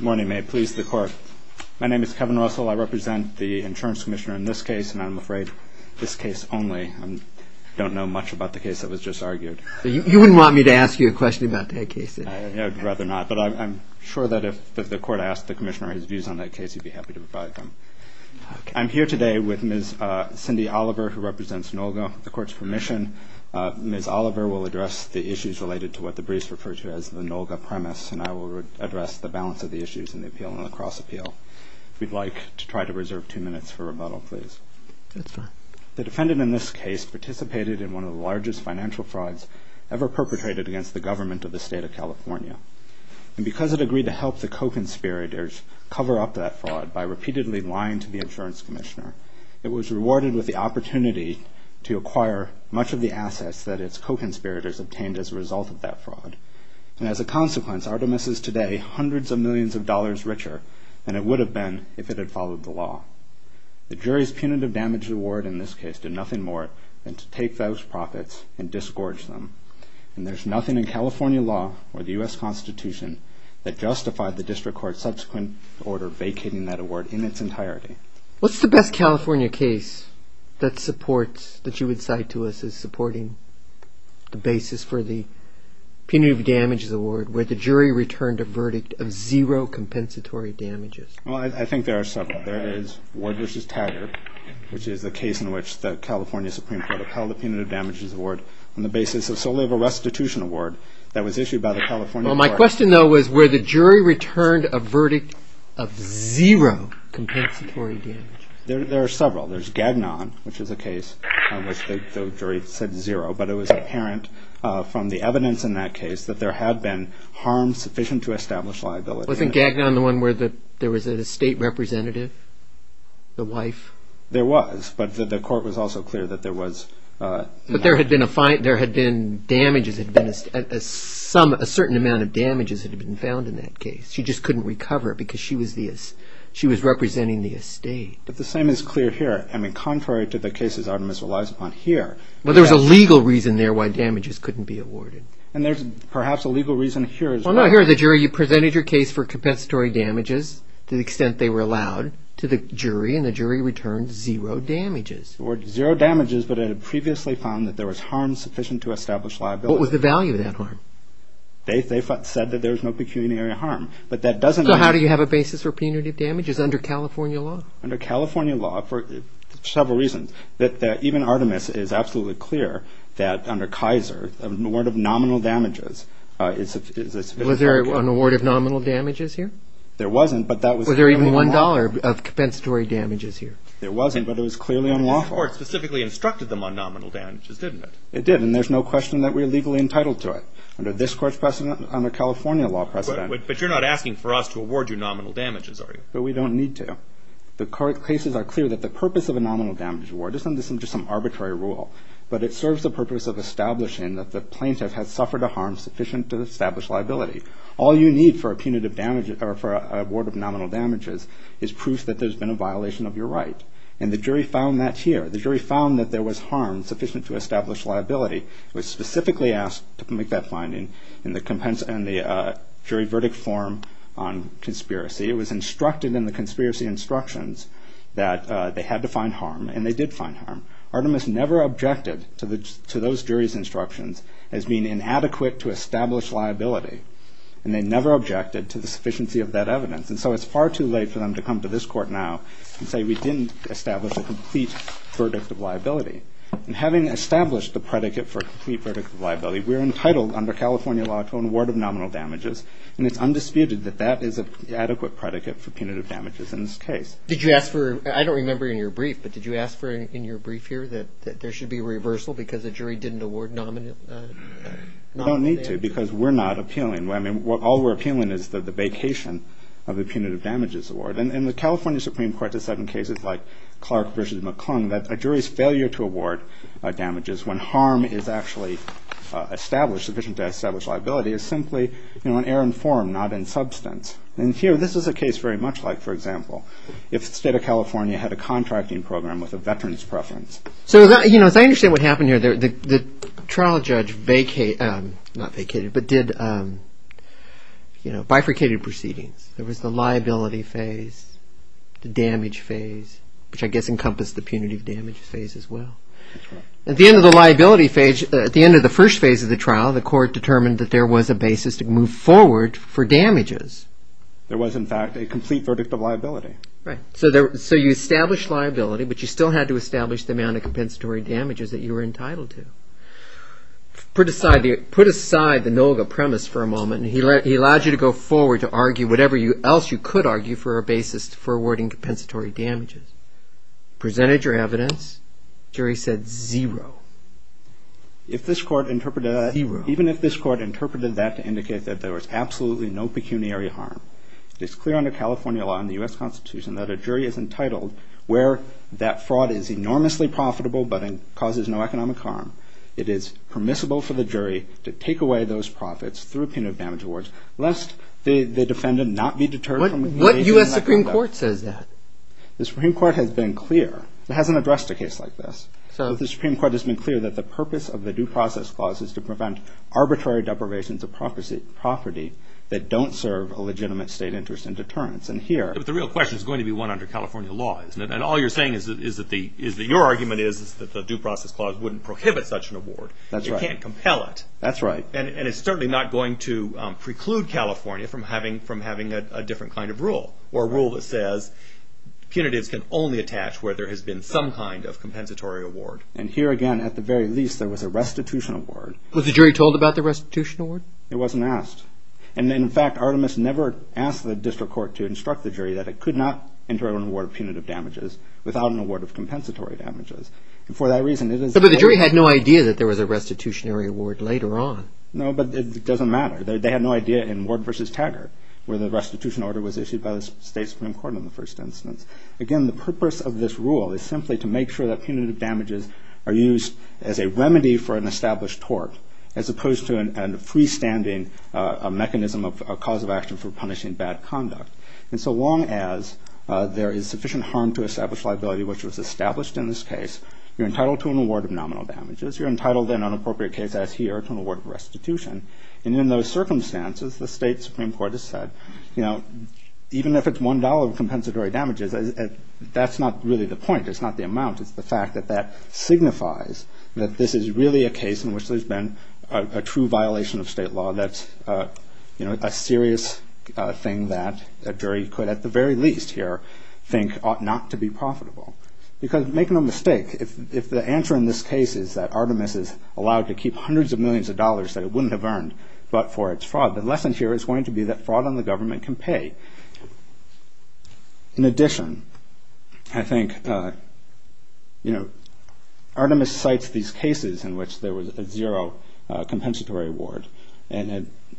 Morning. May it please the Court. My name is Kevin Russell. I represent the Insurance Commissioner in this case, and I'm afraid this case only. I don't know much about the case that was just argued. You wouldn't want me to ask you a question about that case? I'd rather not, but I'm sure that if the Court asked the Commissioner his views on that case, he'd be happy to provide them. I'm here today with Ms. Cindy Oliver, who represents NOLGA. With the Court's permission, Ms. Oliver will address the issues related to what the briefs refer to as the NOLGA premise, and I will address the balance of the issues in the Appeal and the Cross-Appeal. If we'd like to try to reserve two minutes for rebuttal, please. Yes, sir. The defendant in this case participated in one of the largest financial frauds ever perpetrated against the government of the State of California. And because it agreed to help the co-conspirators cover up that fraud by repeatedly lying to the Insurance Commissioner, it was rewarded with the opportunity to acquire much of the assets that its co-conspirators obtained as a result of that fraud. And as a consequence, Artemis is today hundreds of millions of dollars richer than it would have been if it had followed the law. The jury's punitive damage award in this case did nothing more than to take those profits and disgorge them. And there's nothing in California law or the U.S. Constitution that justified the District Court's subsequent order vacating that award in its entirety. What's the best California case that supports, that you would cite to us as supporting the basis for the punitive damages award, where the jury returned a verdict of zero compensatory damages? Well, I think there are several. There is Ward v. Taggart, which is the case in which the California Supreme Court upheld the punitive damages award on the basis of solely of a restitution award that was issued by the California court. Well, my question, though, was where the jury returned a verdict of zero compensatory damages? There are several. There's Gagnon, which is a case in which the jury said zero, but it was apparent from the evidence in that case that there had been harm sufficient to establish liability. Wasn't Gagnon the one where there was a state representative, the wife? There was, but the court was also clear that there was... But there had been damages, a certain amount of damages had been found in that case. She just couldn't recover because she was representing the estate. But the same is clear here. I mean, contrary to the cases Artemis relies upon here... Well, there's a legal reason there why damages couldn't be awarded. And there's perhaps a legal reason here as well. Well, no, here the jury presented your case for compensatory damages to the extent they were allowed to the jury, and the jury returned zero damages. Zero damages, but it had previously found that there was harm sufficient to establish liability. What was the value of that harm? They said that there was no pecuniary harm, but that doesn't... So how do you have a basis for punitive damages under California law? Under California law, for several reasons. Even Artemis is absolutely clear that under Kaiser, an award of nominal damages is a sufficient... Was there an award of nominal damages here? There wasn't, but that was... Was there even $1 of compensatory damages here? There wasn't, but it was clearly unlawful. The court specifically instructed them on nominal damages, didn't it? It did, and there's no question that we're legally entitled to it. Under this court's precedent, under California law precedent... But you're not asking for us to award you nominal damages, are you? But we don't need to. The court cases are clear that the purpose of a nominal damages award isn't just some arbitrary rule, but it serves the purpose of establishing that the plaintiff has suffered a harm sufficient to establish liability. All you need for a punitive damages... Or for an award of nominal damages is proof that there's been a violation of your right. And the jury found that here. The jury found that there was harm sufficient to establish liability. It was specifically asked to make that finding in the jury verdict form on conspiracy. It was instructed in the conspiracy instructions that they had to find harm, and they did find harm. Artemis never objected to those jury's instructions as being inadequate to establish liability. And they never objected to the sufficiency of that evidence. And so it's far too late for them to come to this court now and say we didn't establish a complete verdict of liability. And having established the predicate for a complete verdict of liability, we're entitled under California law to an award of nominal damages, and it's undisputed that that is an adequate predicate for punitive damages in this case. Did you ask for... I don't remember in your brief, but did you ask in your brief here that there should be a reversal because the jury didn't award nominal damages? We don't need to because we're not appealing. I mean, all we're appealing is the vacation of a punitive damages award. And in the California Supreme Court, there's certain cases like Clark v. McClung, that a jury's failure to award damages when harm is actually established, sufficient to establish liability, is simply an error in form, not in substance. And here, this is a case very much like, for example, if the state of California had a contracting program with a veteran's preference. So, you know, as I understand what happened here, the trial judge vacated... not vacated, but did, you know, bifurcated proceedings. There was the liability phase, the damage phase, which I guess encompassed the punitive damage phase as well. At the end of the liability phase, at the end of the first phase of the trial, the court determined that there was a basis to move forward for damages. There was, in fact, a complete verdict of liability. Right. So you established liability, but you still had to establish the amount of compensatory damages that you were entitled to. Put aside the NOGA premise for a moment. He allowed you to go forward to argue whatever else you could argue for a basis for awarding compensatory damages. Presented your evidence. Jury said zero. If this court interpreted... Zero. Even if this court interpreted that to indicate that there was absolutely no pecuniary harm, it is clear under California law and the U.S. Constitution that a jury is entitled where that fraud is enormously profitable, but it causes no economic harm. It is permissible for the jury to take away those profits through punitive damage awards, lest the defendant not be deterred from engaging in that conduct. What U.S. Supreme Court says that? The Supreme Court has been clear. It hasn't addressed a case like this. So the Supreme Court has been clear that the purpose of the Due Process Clause is to prevent arbitrary deprivations of property that don't serve a legitimate state interest in deterrence. And here... But the real question is going to be one under California law, isn't it? And all you're saying is that your argument is that the Due Process Clause wouldn't prohibit such an award. That's right. You can't compel it. That's right. Punitives can only attach where there has been some kind of compensatory award. And here again, at the very least, there was a restitution award. Was the jury told about the restitution award? It wasn't asked. And in fact, Artemis never asked the district court to instruct the jury that it could not enter an award of punitive damages without an award of compensatory damages. And for that reason, it is... But the jury had no idea that there was a restitutionary award later on. No, but it doesn't matter. They had no idea in Ward v. Taggart where the restitution order was issued by the state Supreme Court in the first instance. Again, the purpose of this rule is simply to make sure that punitive damages are used as a remedy for an established tort as opposed to a freestanding mechanism of cause of action for punishing bad conduct. And so long as there is sufficient harm to establish liability, which was established in this case, you're entitled to an award of nominal damages. You're entitled in an inappropriate case as here to an award of restitution. And in those circumstances, the state Supreme Court has said, you know, even if it's $1 of compensatory damages, that's not really the point. It's not the amount. It's the fact that that signifies that this is really a case in which there's been a true violation of state law that's a serious thing that a jury could at the very least here think ought not to be profitable. Because make no mistake, if the answer in this case is that Artemis is allowed to keep hundreds of millions of dollars that it wouldn't have earned but for its fraud, the lesson here is going to be that fraud on the government can pay. In addition, I think, you know, Artemis cites these cases in which there was a zero compensatory award.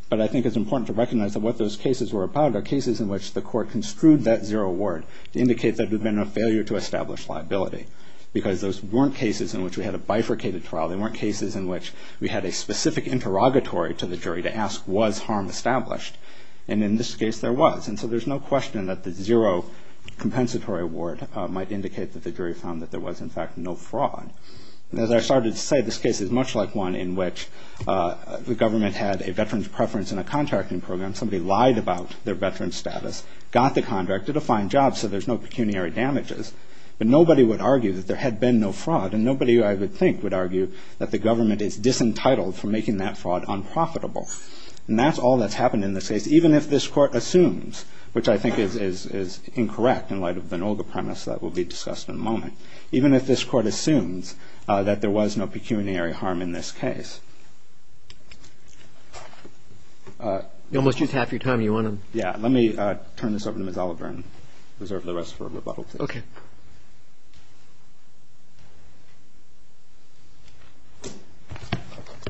But I think it's important to recognize that what those cases were about are cases in which the court construed that zero award to indicate that there had been a failure to establish liability. Because those weren't cases in which we had a bifurcated trial. They weren't cases in which we had a specific interrogatory to the jury to ask was harm established. And in this case, there was. And so there's no question that the zero compensatory award might indicate that the jury found that there was, in fact, no fraud. As I started to say, this case is much like one in which the government had a veteran's preference in a contracting program. Somebody lied about their veteran's status, got the contract, did a fine job, so there's no pecuniary damages. But nobody would argue that there had been no fraud. And nobody, I would think, would argue that the government is disentitled from making that fraud unprofitable. And that's all that's happened in this case, even if this court assumes, which I think is incorrect in light of an older premise that will be discussed in a moment, even if this court assumes that there was no pecuniary harm in this case. You almost used half your time. Do you want to? Yeah, let me turn this over to Ms. Oliver and reserve the rest for rebuttal, please. Okay.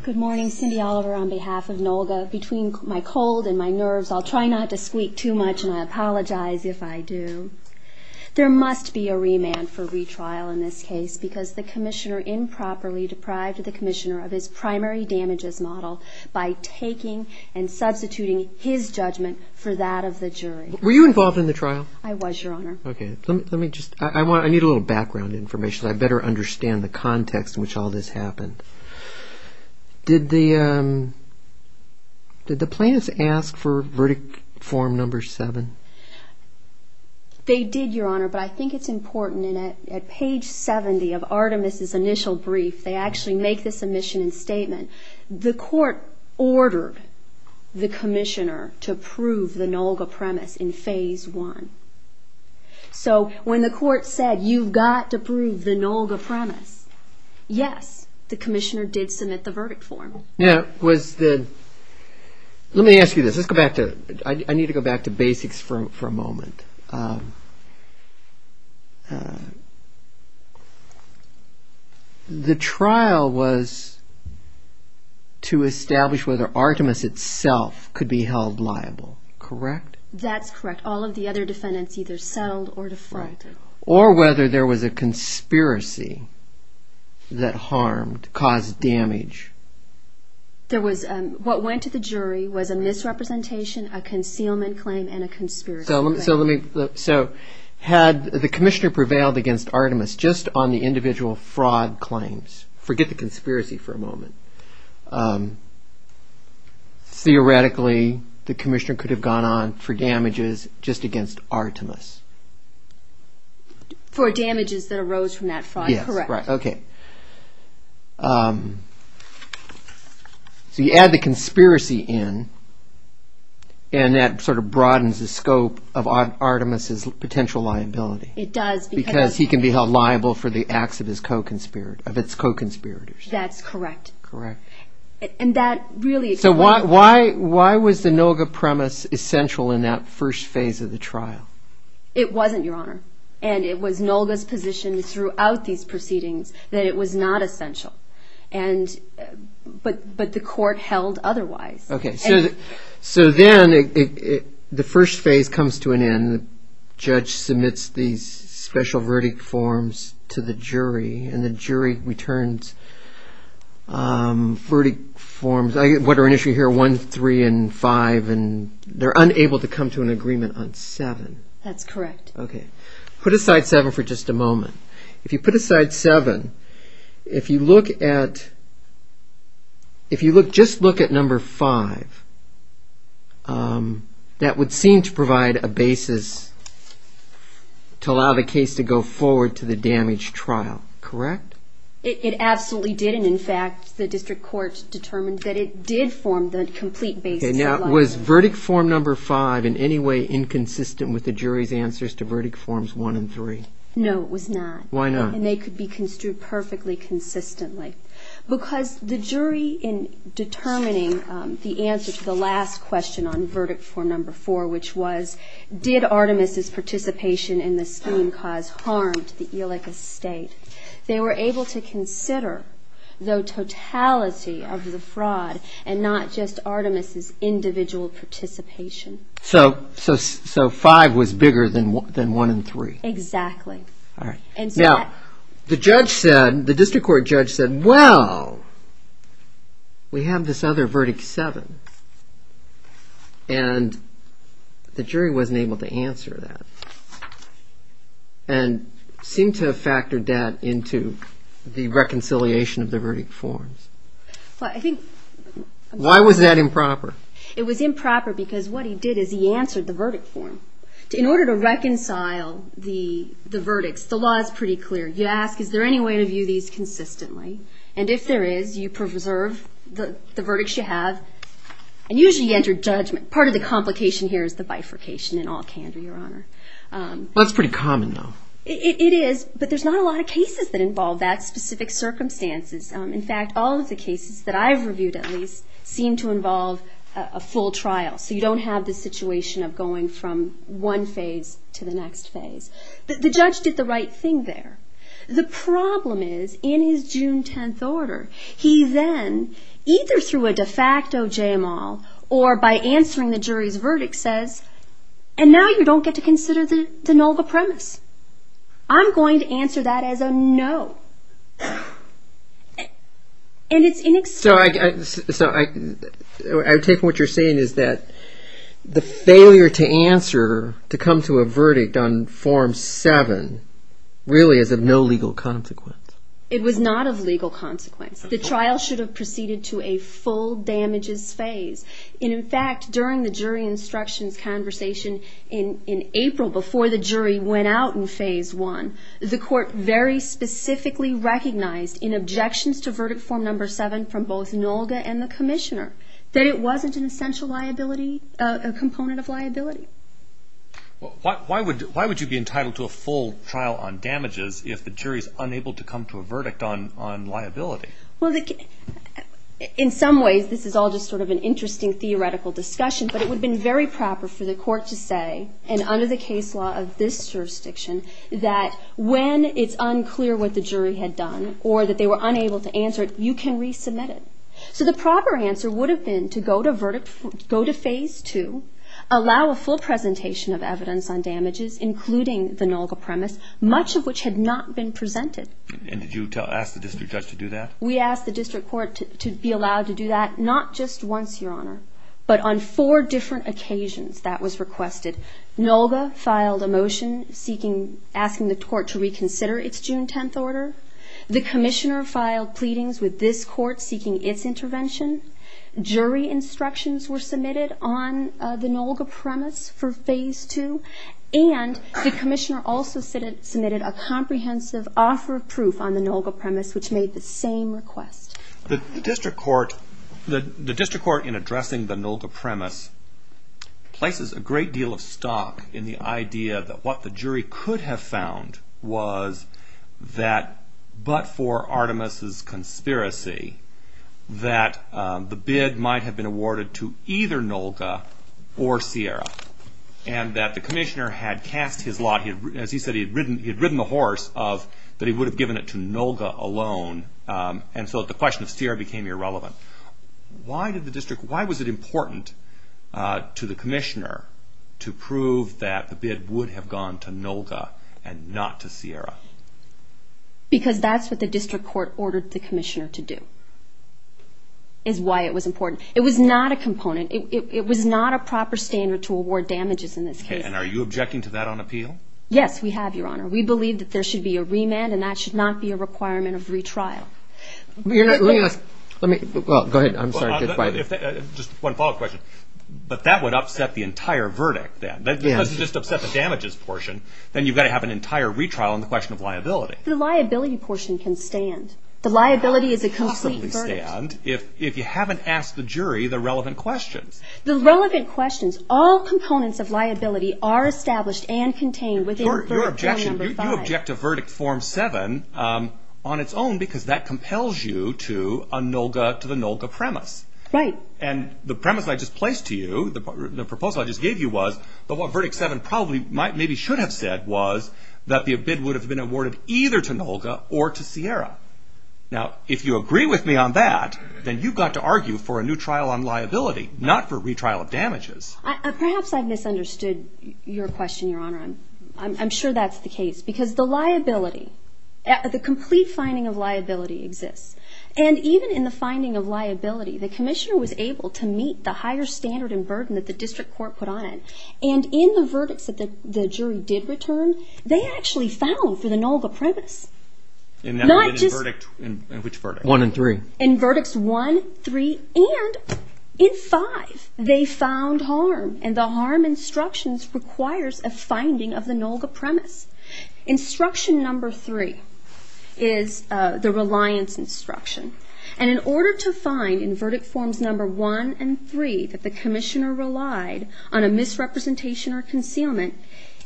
Good morning. Cindy Oliver on behalf of NOLGA. Between my cold and my nerves, I'll try not to squeak too much, and I apologize if I do. There must be a remand for retrial in this case, because the commissioner improperly deprived the commissioner of his primary damages model by taking and substituting his judgment for that of the jury. Were you involved in the trial? I was, Your Honor. Okay. I need a little background information so I better understand the context in which all this happened. Did the plaintiffs ask for verdict form number 7? They did, Your Honor, but I think it's important. At page 70 of Artemis' initial brief, they actually make the submission and statement. The court ordered the commissioner to prove the NOLGA premise in phase 1. So when the court said, you've got to prove the NOLGA premise, yes, the commissioner did submit the verdict form. Now, let me ask you this. I need to go back to basics for a moment. The trial was to establish whether Artemis itself could be held liable, correct? That's correct. All of the other defendants either settled or defrauded. Or whether there was a conspiracy that harmed, caused damage. What went to the jury was a misrepresentation, a concealment claim, and a conspiracy. So had the commissioner prevailed against Artemis just on the individual fraud claims? Forget the conspiracy for a moment. Theoretically, the commissioner could have gone on for damages just against Artemis. For damages that arose from that fraud, correct. Yes, right, okay. So you add the conspiracy in, and that sort of broadens the scope of Artemis' potential liability. It does. Because he can be held liable for the acts of his co-conspirators. That's correct. Correct. So why was the NOLGA premise essential in that first phase of the trial? It wasn't, Your Honor. And it was NOLGA's position throughout these proceedings that it was not essential. But the court held otherwise. Okay, so then the first phase comes to an end. The judge submits these special verdict forms to the jury, and the jury returns verdict forms. What are in issue here, 1, 3, and 5, and they're unable to come to an agreement on 7. That's correct. Okay. Put aside 7 for just a moment. If you put aside 7, if you look at, if you just look at number 5, that would seem to provide a basis to allow the case to go forward to the damage trial, correct? It absolutely did. And, in fact, the district court determined that it did form the complete basis. Okay. Now, was verdict form number 5 in any way inconsistent with the jury's answers to verdict forms 1 and 3? No, it was not. Why not? And they could be construed perfectly consistently. Because the jury, in determining the answer to the last question on verdict form number 4, which was did Artemis' participation in the scheme cause harm to the Elika estate, they were able to consider the totality of the fraud and not just Artemis' individual participation. So 5 was bigger than 1 and 3. Exactly. All right. Now, the judge said, the district court judge said, well, we have this other verdict 7. And the jury wasn't able to answer that. And seemed to have factored that into the reconciliation of the verdict forms. Why was that improper? It was improper because what he did is he answered the verdict form. In order to reconcile the verdicts, the law is pretty clear. You ask, is there any way to view these consistently? And if there is, you preserve the verdicts you have. And usually you enter judgment. Part of the complication here is the bifurcation, in all candor, Your Honor. That's pretty common, though. It is. But there's not a lot of cases that involve that specific circumstances. In fact, all of the cases that I've reviewed at least seem to involve a full trial. So you don't have the situation of going from one phase to the next phase. The judge did the right thing there. The problem is, in his June 10th order, he then, either through a de facto JML, or by answering the jury's verdict, says, and now you don't get to consider the null the premise. I'm going to answer that as a no. And it's inexcusable. So I take what you're saying is that the failure to answer, to come to a verdict on Form 7, really is of no legal consequence. It was not of legal consequence. The trial should have proceeded to a full damages phase. And, in fact, during the jury instructions conversation in April, before the jury went out in Phase 1, the court very specifically recognized in objections to Verdict Form Number 7 from both Nolga and the Commissioner, that it wasn't an essential liability, a component of liability. Why would you be entitled to a full trial on damages if the jury is unable to come to a verdict on liability? Well, in some ways, this is all just sort of an interesting theoretical discussion, but it would have been very proper for the court to say, and under the case law of this jurisdiction, that when it's unclear what the jury had done, or that they were unable to answer it, you can resubmit it. So the proper answer would have been to go to Phase 2, allow a full presentation of evidence on damages, including the Nolga premise, much of which had not been presented. And did you ask the district judge to do that? We asked the district court to be allowed to do that, not just once, Your Honor, but on four different occasions that was requested. Nolga filed a motion asking the court to reconsider its June 10th order. The Commissioner filed pleadings with this court seeking its intervention. Jury instructions were submitted on the Nolga premise for Phase 2. And the Commissioner also submitted a comprehensive offer of proof on the Nolga premise, which made the same request. The district court in addressing the Nolga premise places a great deal of stock in the idea that what the jury could have found was that, but for Artemis's conspiracy, that the bid might have been awarded to either Nolga or Sierra, and that the Commissioner had cast his lot. As he said, he had ridden the horse that he would have given it to Nolga alone, and so the question of Sierra became irrelevant. Why was it important to the Commissioner to prove that the bid would have gone to Nolga and not to Sierra? Because that's what the district court ordered the Commissioner to do, is why it was important. It was not a component. It was not a proper standard to award damages in this case. And are you objecting to that on appeal? Yes, we have, Your Honor. We believe that there should be a remand, and that should not be a requirement of retrial. Well, go ahead. I'm sorry. Just one follow-up question. But that would upset the entire verdict then. Because it would just upset the damages portion, then you've got to have an entire retrial on the question of liability. The liability portion can stand. The liability is a complete verdict. And if you haven't asked the jury the relevant questions. The relevant questions. All components of liability are established and contained within Verdict No. 5. Your objection, you object to Verdict Form 7 on its own because that compels you to the Nolga premise. Right. And the premise I just placed to you, the proposal I just gave you was that what Verdict 7 probably maybe should have said was that the bid would have been awarded either to Nolga or to Sierra. Now, if you agree with me on that, then you've got to argue for a new trial on liability, not for retrial of damages. Perhaps I've misunderstood your question, Your Honor. I'm sure that's the case. Because the liability, the complete finding of liability exists. And even in the finding of liability, the commissioner was able to meet the higher standard and burden that the district court put on it. And in the verdicts that the jury did return, they actually found for the Nolga premise. In which verdict? 1 and 3. In Verdicts 1, 3, and in 5, they found harm. And the harm instructions requires a finding of the Nolga premise. Instruction No. 3 is the Reliance Instruction. And in order to find in Verdict Forms No. 1 and 3 that the commissioner relied on a misrepresentation or concealment,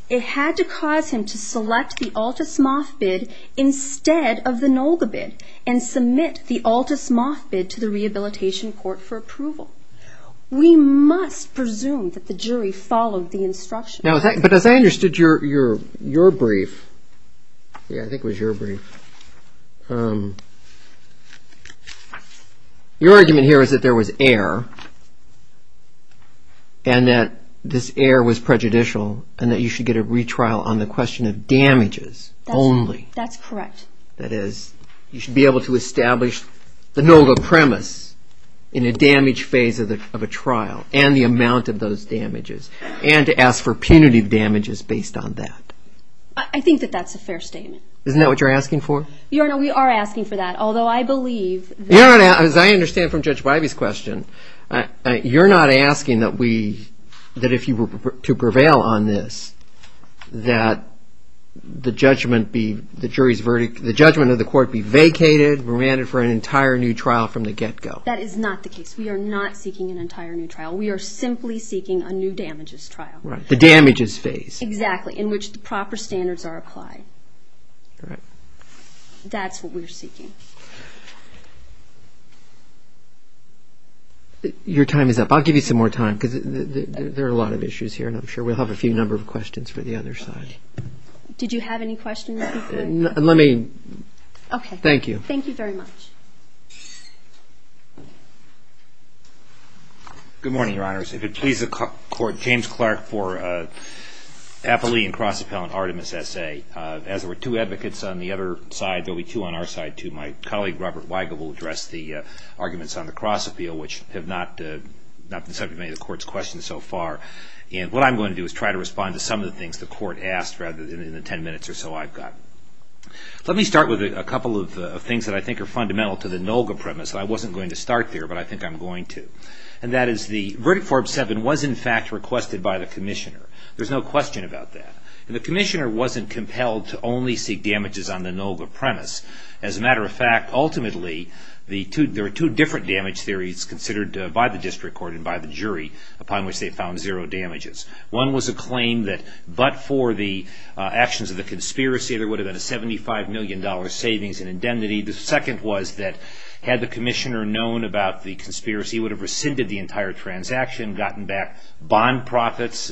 it had to cause him to select the Altus-Moth bid instead of the Nolga bid and submit the Altus-Moth bid to the Rehabilitation Court for approval. We must presume that the jury followed the instructions. But as I understood your brief, I think it was your brief, your argument here is that there was error and that this error was prejudicial and that you should get a retrial on the question of damages only. That's correct. That is, you should be able to establish the Nolga premise in a damage phase of a trial and the amount of those damages and to ask for punitive damages based on that. I think that that's a fair statement. Isn't that what you're asking for? Your Honor, we are asking for that, although I believe that... Your Honor, as I understand from Judge Bivey's question, you're not asking that we, that if you were to prevail on this, that the judgment be, the jury's verdict, the judgment of the court be vacated, remanded for an entire new trial from the get-go. That is not the case. We are not seeking an entire new trial. We are simply seeking a new damages trial. Right, the damages phase. Exactly, in which the proper standards are applied. Correct. That's what we're seeking. Your time is up. I'll give you some more time because there are a lot of issues here, and I'm sure we'll have a few number of questions for the other side. Did you have any questions before? Let me... Okay. Thank you. Thank you very much. Good morning, Your Honors. If it please the Court, James Clark for Appley and Cross Appellant Artemis S.A. As there were two advocates on the other side, there'll be two on our side, too. My colleague, Robert Weigel, will address the arguments on the cross appeal, which have not been subject to many of the Court's questions so far. And what I'm going to do is try to respond to some of the things the Court asked rather than in the ten minutes or so I've got. Let me start with a couple of things that I think are fundamental to the NOLGA premise. I wasn't going to start there, but I think I'm going to. And that is the verdict form 7 was, in fact, requested by the Commissioner. There's no question about that. The Commissioner wasn't compelled to only seek damages on the NOLGA premise. As a matter of fact, ultimately, there are two different damage theories considered by the District Court and by the jury upon which they found zero damages. One was a claim that but for the actions of the conspiracy, there would have been a $75 million savings and indemnity. The second was that had the Commissioner known about the conspiracy, he would have rescinded the entire transaction, gotten back bond profits,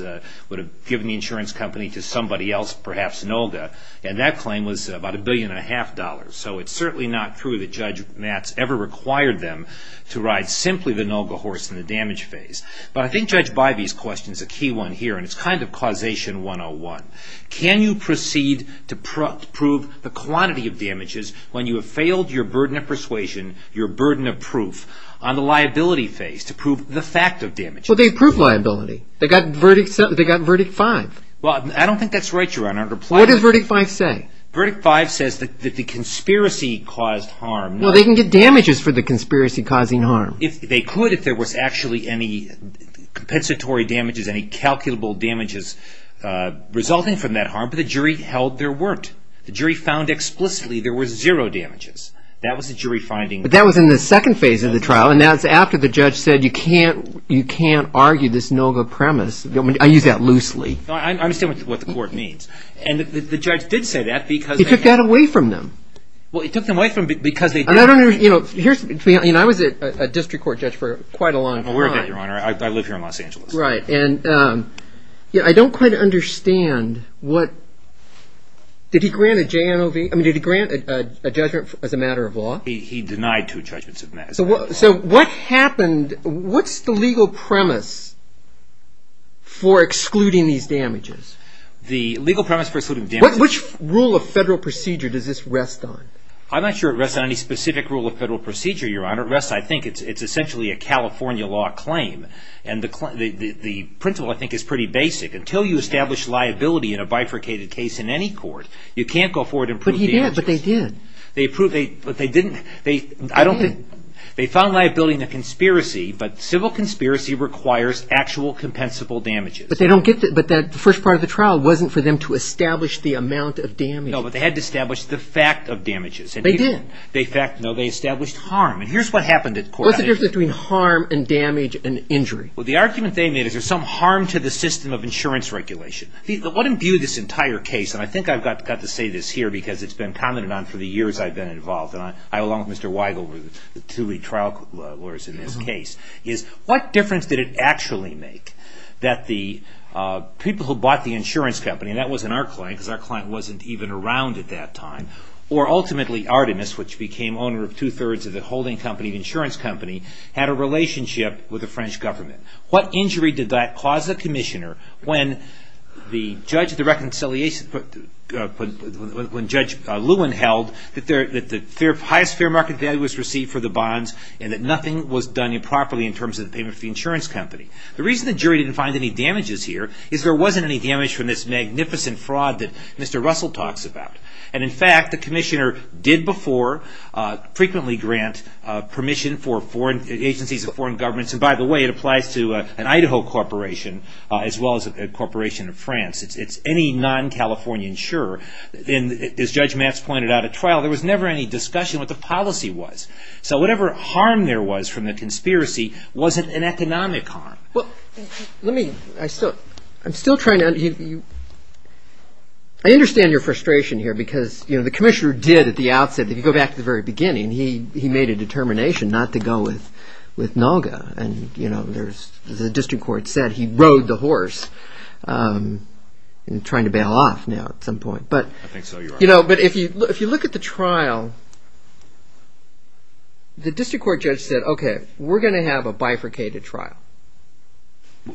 would have given the insurance company to somebody else, perhaps NOLGA. And that claim was about a billion and a half dollars. So it's certainly not true that Judge Matz ever required them to ride simply the NOLGA horse in the damage phase. But I think Judge Bivey's question is a key one here, and it's kind of causation 101. Can you proceed to prove the quantity of damages when you have failed your burden of persuasion, your burden of proof, on the liability phase to prove the fact of damages? Well, they proved liability. They got verdict 5. Well, I don't think that's right, Your Honor. What does verdict 5 say? Verdict 5 says that the conspiracy caused harm. No, they can get damages for the conspiracy causing harm. They could if there was actually any compensatory damages, any calculable damages resulting from that harm, but the jury held there weren't. The jury found explicitly there were zero damages. That was the jury finding. But that was in the second phase of the trial, and that's after the judge said you can't argue this NOLGA premise. I use that loosely. I understand what the court means. And the judge did say that because they had to. He took that away from them. Well, he took them away from them because they did. I don't understand. I was a district court judge for quite a long time. Oh, we're good, Your Honor. I live here in Los Angeles. Right. And I don't quite understand what – did he grant a JNOV? I mean, did he grant a judgment as a matter of law? He denied two judgments as a matter of law. So what happened – what's the legal premise for excluding these damages? The legal premise for excluding the damages – Which rule of federal procedure does this rest on? I'm not sure it rests on any specific rule of federal procedure, Your Honor. It rests, I think, it's essentially a California law claim. And the principle, I think, is pretty basic. Until you establish liability in a bifurcated case in any court, you can't go forward and prove the damages. But he did. But they did. But they didn't – I don't think – They did. They found liability in a conspiracy, but civil conspiracy requires actual compensable damages. But they don't get – but the first part of the trial wasn't for them to establish the amount of damage. No, but they had to establish the fact of damages. They did. No, they established harm. And here's what happened at court. What's the difference between harm and damage and injury? Well, the argument they made is there's some harm to the system of insurance regulation. What imbued this entire case – and I think I've got to say this here because it's been commented on for the years I've been involved, and I, along with Mr. Weigel, were the two lead trial lawyers in this case – is what difference did it actually make that the people who bought the insurance company – and that wasn't our client because our client wasn't even around at that time – or ultimately Artemis, which became owner of two-thirds of the holding company, the insurance company, had a relationship with the French government? What injury did that cause the commissioner when Judge Lewin held that the highest fair market value was received for the bonds and that nothing was done improperly in terms of the payment of the insurance company? The reason the jury didn't find any damages here is there wasn't any damage from this magnificent fraud that Mr. Russell talks about. And, in fact, the commissioner did before frequently grant permission for agencies of foreign governments – to an Idaho corporation as well as a corporation of France, it's any non-Californian insurer – and, as Judge Matz pointed out at trial, there was never any discussion what the policy was. So whatever harm there was from the conspiracy wasn't an economic harm. Well, let me – I still – I'm still trying to – I understand your frustration here because, you know, the commissioner did at the outset – if you go back to the very beginning, he made a determination not to go with NAWGA. And, you know, there's – the district court said he rode the horse in trying to bail off now at some point. But – I think so. You're right. You know, but if you look at the trial, the district court judge said, okay, we're going to have a bifurcated trial.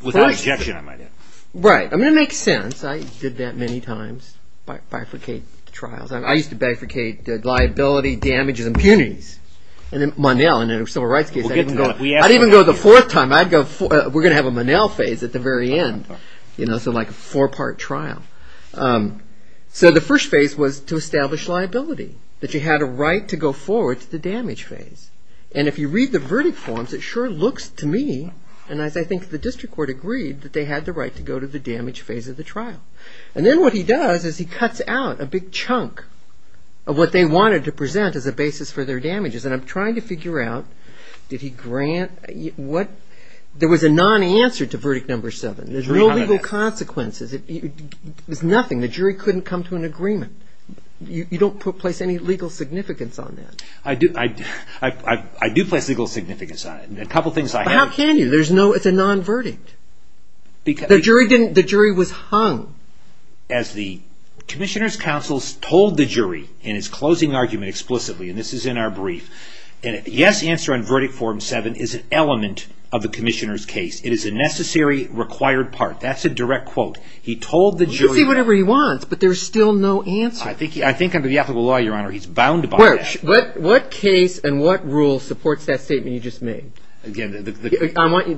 Without objection, I might add. Right. I mean, it makes sense. I did that many times, bifurcate trials. I used to bifurcate liability, damages, impunities. And then Monell in a civil rights case – We'll get to that. I'd even go the fourth time. I'd go – we're going to have a Monell phase at the very end, you know, so like a four-part trial. So the first phase was to establish liability, that you had a right to go forward to the damage phase. And if you read the verdict forms, it sure looks to me, and as I think the district court agreed, that they had the right to go to the damage phase of the trial. And then what he does is he cuts out a big chunk of what they wanted to present as a basis for their damages. And I'm trying to figure out, did he grant – there was a non-answer to verdict number seven. There's no legal consequences. There's nothing. The jury couldn't come to an agreement. You don't place any legal significance on that. I do place legal significance on it. A couple things I have – But how can you? There's no – it's a non-verdict. The jury didn't – the jury was hung. As the commissioner's counsel told the jury in his closing argument explicitly, and this is in our brief, a yes answer on verdict form seven is an element of the commissioner's case. It is a necessary, required part. That's a direct quote. He told the jury – He can say whatever he wants, but there's still no answer. I think under the ethical law, Your Honor, he's bound by that. What case and what rule supports that statement you just made? I want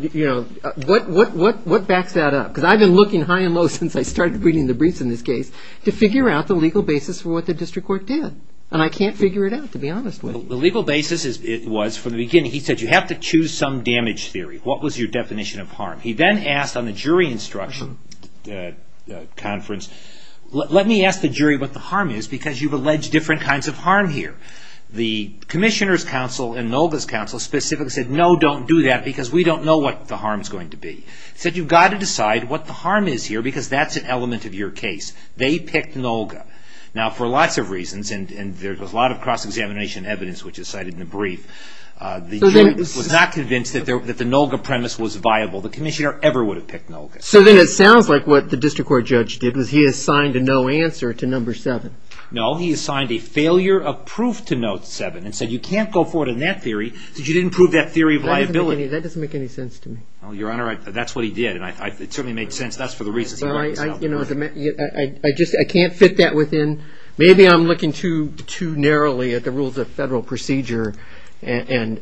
– what backs that up? Because I've been looking high and low since I started reading the briefs in this case to figure out the legal basis for what the district court did. And I can't figure it out, to be honest with you. The legal basis was, from the beginning, he said you have to choose some damage theory. What was your definition of harm? He then asked on the jury instruction conference, let me ask the jury what the harm is because you've alleged different kinds of harm here. The commissioner's counsel and Nolga's counsel specifically said, no, don't do that because we don't know what the harm is going to be. He said you've got to decide what the harm is here because that's an element of your case. They picked Nolga. Now, for lots of reasons, and there was a lot of cross-examination evidence which is cited in the brief, the jury was not convinced that the Nolga premise was viable. The commissioner ever would have picked Nolga. So then it sounds like what the district court judge did was he assigned a no answer to number seven. No, he assigned a failure of proof to note seven and said you can't go forward in that theory because you didn't prove that theory of liability. That doesn't make any sense to me. Well, Your Honor, that's what he did, and it certainly made sense. That's for the reasons I brought this up. I can't fit that within. Maybe I'm looking too narrowly at the rules of federal procedure and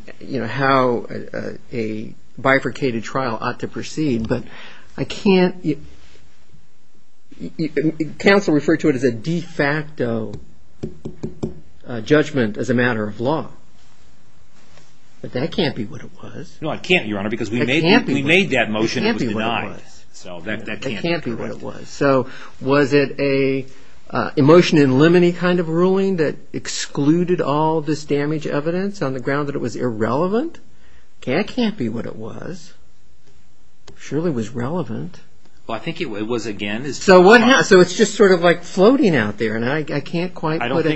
how a bifurcated trial ought to proceed, but I can't. Counsel referred to it as a de facto judgment as a matter of law, but that can't be what it was. No, it can't, Your Honor, because we made that motion. It can't be what it was. So that can't be correct. So was it an emotion in limine kind of ruling that excluded all this damage evidence on the ground that it was irrelevant? That can't be what it was. Surely it was relevant. Well, I think it was again. So it's just sort of like floating out there, and I can't quite put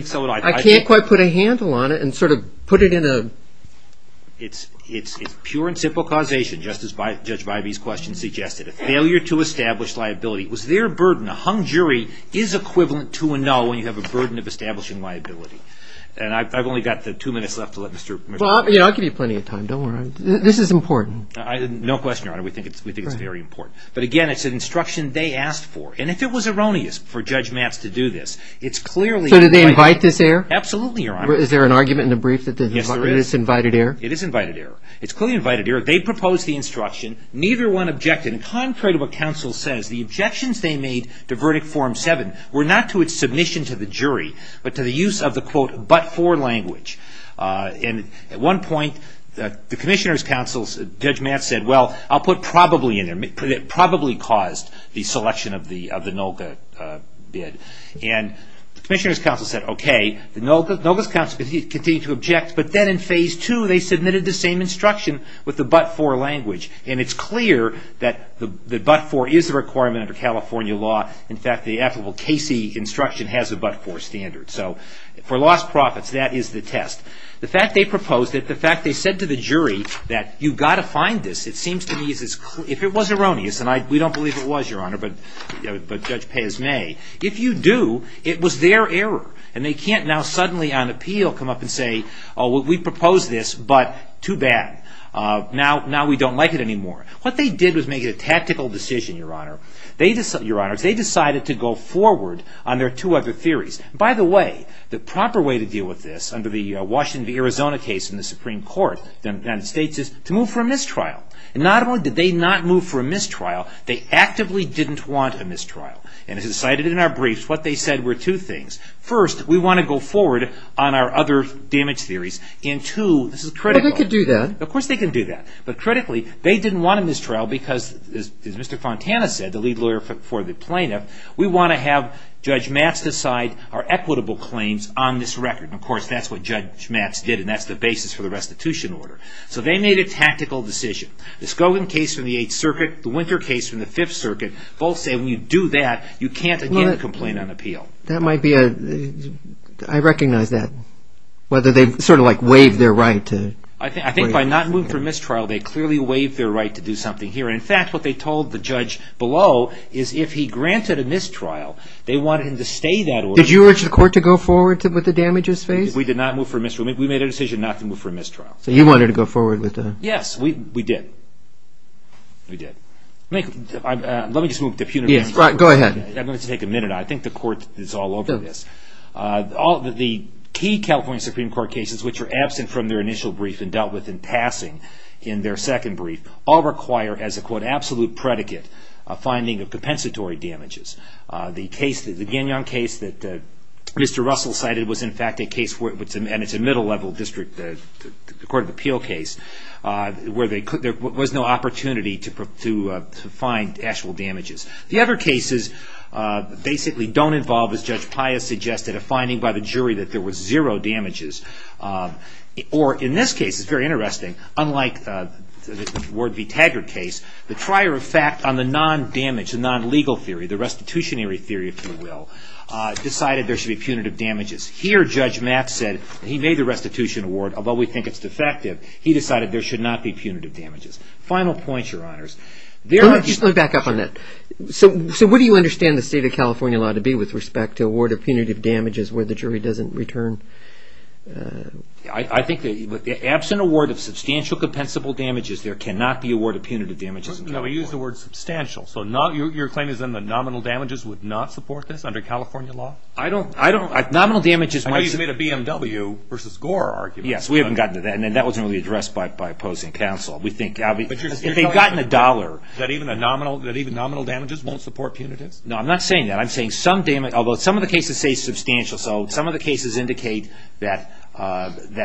a handle on it and sort of put it in a... It's pure and simple causation, just as Judge Vibey's question suggested. A failure to establish liability was their burden. A hung jury is equivalent to a no when you have a burden of establishing liability. And I've only got the two minutes left to let Mr.... Well, I'll give you plenty of time. Don't worry. This is important. No question, Your Honor. We think it's very important. But again, it's an instruction they asked for. And if it was erroneous for Judge Matz to do this, it's clearly... So did they invite this error? Absolutely, Your Honor. Is there an argument in the brief that it is invited error? It is invited error. It's clearly invited error. They proposed the instruction. Neither one objected. And contrary to what counsel says, the objections they made to Verdict Form 7 were not to its submission to the jury, but to the use of the, quote, but-for language. And at one point, the Commissioner's counsel, Judge Matz, said, well, I'll put probably in there... Probably caused the selection of the NOLCA bid. And the Commissioner's counsel said, okay. NOLCA's counsel continued to object. But then in Phase 2, they submitted the same instruction with the but-for language. And it's clear that the but-for is a requirement under California law. In fact, the applicable Casey instruction has a but-for standard. So for lost profits, that is the test. The fact they proposed it, the fact they said to the jury that you've got to find this, it seems to me is as clear... If it was erroneous, and we don't believe it was, Your Honor, but Judge Pez may, if you do, it was their error. And they can't now suddenly on appeal come up and say, oh, we proposed this, but too bad. Now we don't like it anymore. What they did was make it a tactical decision, Your Honor. They decided to go forward on their two other theories. By the way, the proper way to deal with this under the Washington v. Arizona case in the Supreme Court in the United States is to move for a mistrial. And not only did they not move for a mistrial, they actively didn't want a mistrial. And as is cited in our briefs, what they said were two things. First, we want to go forward on our other damage theories. And two, this is critical. But they could do that. Of course they can do that. But critically, they didn't want a mistrial because, as Mr. Fontana said, the lead lawyer for the plaintiff, we want to have Judge Matz decide our equitable claims on this record. Of course, that's what Judge Matz did. And that's the basis for the restitution order. So they made a tactical decision. The Scogin case from the Eighth Circuit, the Winter case from the Fifth Circuit, both say when you do that, you can't again complain on appeal. That might be a, I recognize that, whether they sort of like waived their right to. I think by not moving for mistrial, they clearly waived their right to do something here. In fact, what they told the judge below is if he granted a mistrial, they wanted him to stay that order. Did you urge the court to go forward with the damages phase? We did not move for a mistrial. We made a decision not to move for a mistrial. So you wanted to go forward with that. Yes, we did. We did. Let me just move to punitive. Go ahead. I'm going to take a minute. I think the court is all over this. The key California Supreme Court cases, which are absent from their initial brief and dealt with in passing in their second brief, all require, as a quote, absolute predicate, a finding of compensatory damages. The Gagnon case that Mr. Russell cited was, in fact, a case, and it's a middle-level district court of appeal case, where there was no opportunity to find actual damages. The other cases basically don't involve, as Judge Pius suggested, a finding by the jury that there was zero damages. Or in this case, it's very interesting, unlike the Ward v. Taggart case, the trier of fact on the non-damage, the non-legal theory, the restitutionary theory, if you will, decided there should be punitive damages. Here, Judge Matt said, he made the restitution award, although we think it's defective, he decided there should not be punitive damages. Final point, Your Honors. Just let me back up on that. So what do you understand the state of California law to be with respect to a ward of punitive damages where the jury doesn't return? I think that absent a ward of substantial compensable damages, there cannot be a ward of punitive damages. No, he used the word substantial. So your claim is then that nominal damages would not support this under California law? I don't. Nominal damages might support. I know you made a BMW v. Gore argument. Yes, we haven't gotten to that, and that wasn't really addressed by opposing counsel. We think, if they'd gotten a dollar. That even nominal damages won't support punitives? No, I'm not saying that. I'm saying some damage, although some of the cases say substantial, so some of the cases indicate that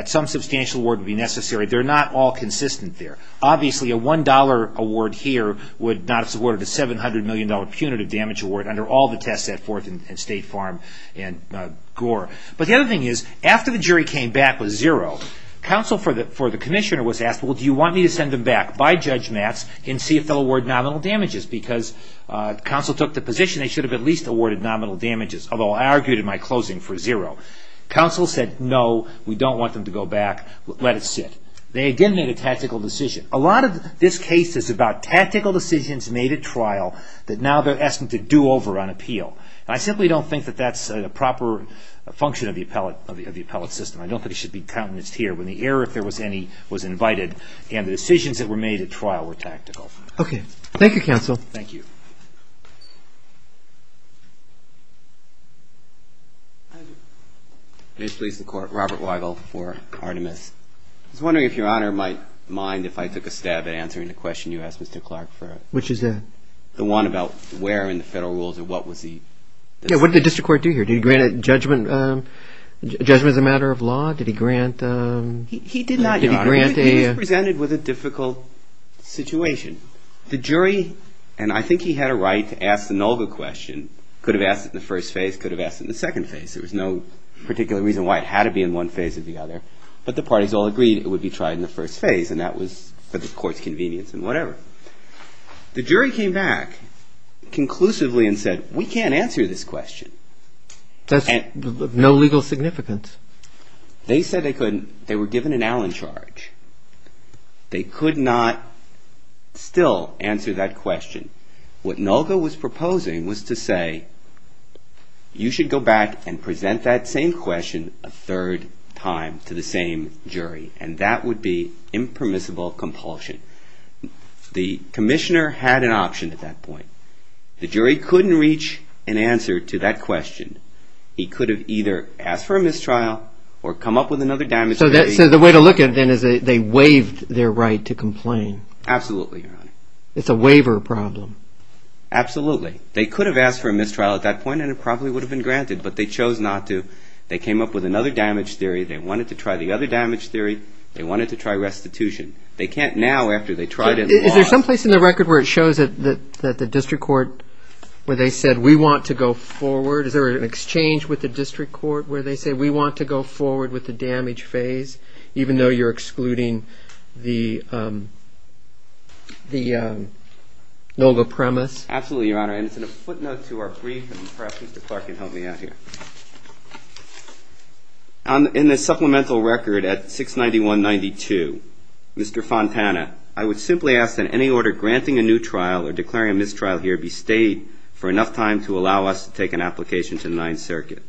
some substantial award would be necessary. They're not all consistent there. Obviously, a $1 award here would not have supported a $700 million punitive damage award under all the tests at 4th and State Farm and Gore. But the other thing is, after the jury came back with zero, counsel for the commissioner was asked, well, do you want me to send them back by Judge Matt's and see if they'll award nominal damages? Because counsel took the position they should have at least awarded nominal damages, although I argued in my closing for zero. Counsel said, no, we don't want them to go back. Let it sit. They again made a tactical decision. A lot of this case is about tactical decisions made at trial that now they're asking to do over on appeal. I simply don't think that that's a proper function of the appellate system. I don't think it should be countenanced here, when the error, if there was any, was invited and the decisions that were made at trial were tactical. Okay. Thank you, counsel. Thank you. May it please the Court. Robert Weigel for Artemis. I was wondering if Your Honor might mind if I took a stab at answering the question you asked Mr. Clark for. Which is that? The one about where in the federal rules and what was the... Yeah, what did the district court do here? Did he grant a judgment as a matter of law? Did he grant... He did not, Your Honor. Did he grant a... He presented with a difficult situation. The jury, and I think he had a right to ask the Nulga question, could have asked it in the first phase, could have asked it in the second phase. There was no particular reason why it had to be in one phase or the other. But the parties all agreed it would be tried in the first phase and that was for the court's convenience and whatever. The jury came back conclusively and said, we can't answer this question. That's of no legal significance. They said they were given an Allen charge. They could not still answer that question. What Nulga was proposing was to say, you should go back and present that same question a third time to the same jury. And that would be impermissible compulsion. The commissioner had an option at that point. The jury couldn't reach an answer to that question. He could have either asked for a mistrial or come up with another damage theory. So the way to look at it then is they waived their right to complain. Absolutely, Your Honor. It's a waiver problem. Absolutely. They could have asked for a mistrial at that point and it probably would have been granted. But they chose not to. They came up with another damage theory. They wanted to try the other damage theory. They wanted to try restitution. They can't now, after they tried and lost. Is there some place in the record where it shows that the district court, where they said, we want to go forward? Is there an exchange with the district court where they say, we want to go forward with the damage phase, even though you're excluding the Nulga premise? Absolutely, Your Honor. And as a footnote to our brief, perhaps Mr. Clark can help me out here. In the supplemental record at 69192, Mr. Fontana, I would simply ask that any order granting a new trial or declaring a mistrial here be stayed for enough time to allow us to take an application to the Ninth Circuit.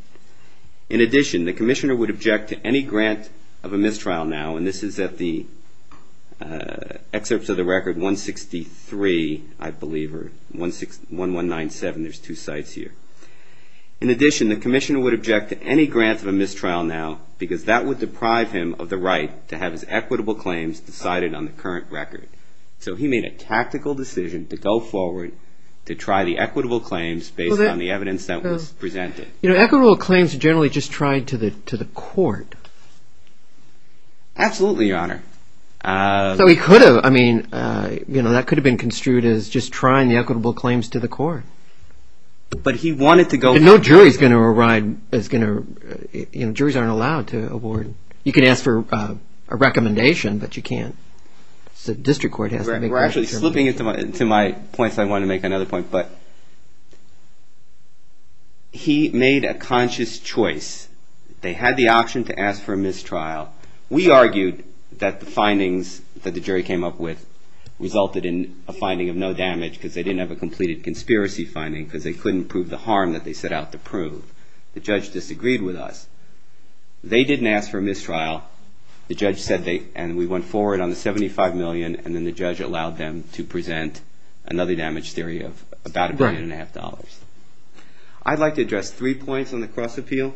In addition, the commissioner would object to any grant of a mistrial now, and this is at the excerpts of the record 163, I believe, or 1197. There's two sites here. In addition, the commissioner would object to any grant of a mistrial now because that would deprive him of the right to have his equitable claims decided on the current record. So he made a tactical decision to go forward to try the equitable claims based on the evidence that was presented. You know, equitable claims are generally just tried to the court. Absolutely, Your Honor. So he could have. I mean, that could have been construed as just trying the equitable claims to the court. But he wanted to go forward. And no jury is going to arrive. Juries aren't allowed to award. You can ask for a recommendation, but you can't. We're actually slipping into my points. I want to make another point. But he made a conscious choice. They had the option to ask for a mistrial. We argued that the findings that the jury came up with resulted in a finding of no damage because they didn't have a completed conspiracy finding because they couldn't prove the harm that they set out to prove. The judge disagreed with us. They didn't ask for a mistrial. The judge said they and we went forward on the $75 million and then the judge allowed them to present another damage theory of about a billion and a half dollars. I'd like to address three points on the cross appeal.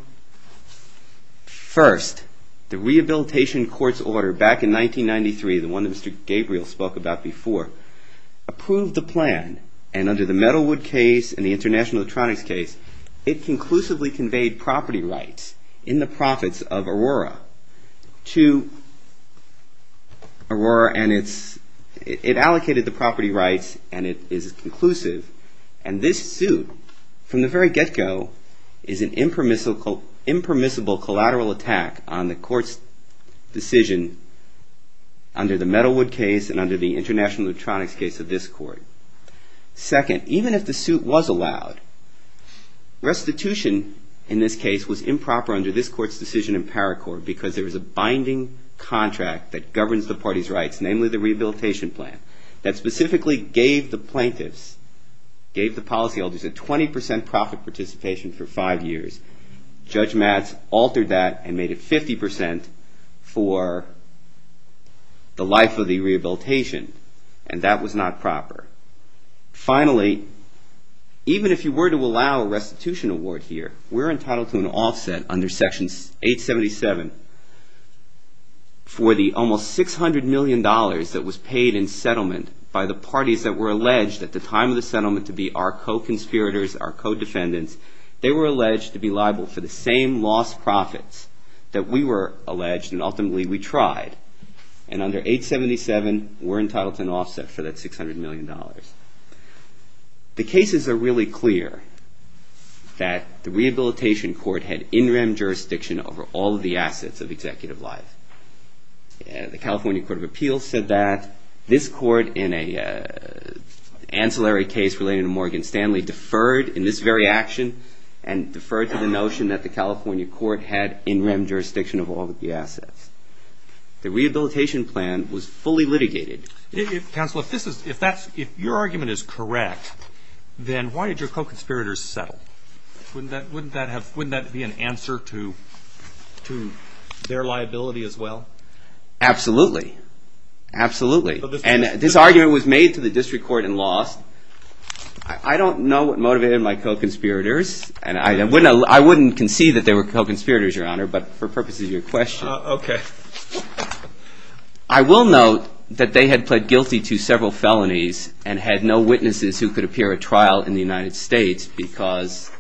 First, the rehabilitation court's order back in 1993, the one that Mr. Gabriel spoke about before, approved the plan. And under the Metalwood case and the International Electronics case, it conclusively conveyed property rights in the profits of Aurora. It allocated the property rights and it is conclusive. And this suit, from the very get-go, is an impermissible collateral attack on the court's decision under the Metalwood case and under the International Electronics case of this court. Second, even if the suit was allowed, restitution in this case was improper under this court's decision in Paracourt because there is a binding contract that governs the party's rights, namely the rehabilitation plan, that specifically gave the plaintiffs, gave the policyholders a 20% profit participation for five years. Judge Matz altered that and made it 50% for the life of the rehabilitation and that was not proper. Finally, even if you were to allow a restitution award here, we're entitled to an offset under Section 877 for the almost $600 million that was paid in settlement by the parties that were alleged at the time of the settlement to be our co-conspirators, our co-defendants. They were alleged to be liable for the same lost profits that we were alleged and ultimately we tried. And under 877, we're entitled to an offset for that $600 million. The cases are really clear that the rehabilitation court had in-rem jurisdiction over all of the assets of executive life. The California Court of Appeals said that. This court in an ancillary case related to Morgan Stanley deferred in this very action and deferred to the notion that the California court had in-rem jurisdiction of all of the assets. The rehabilitation plan was fully litigated. Counsel, if your argument is correct, then why did your co-conspirators settle? Wouldn't that be an answer to their liability as well? Absolutely. Absolutely. And this argument was made to the district court and lost. I don't know what motivated my co-conspirators and I wouldn't concede that they were co-conspirators, Your Honor, but for purposes of your question. I will note that they had pled guilty to several felonies and had no witnesses who could appear at trial in the United States because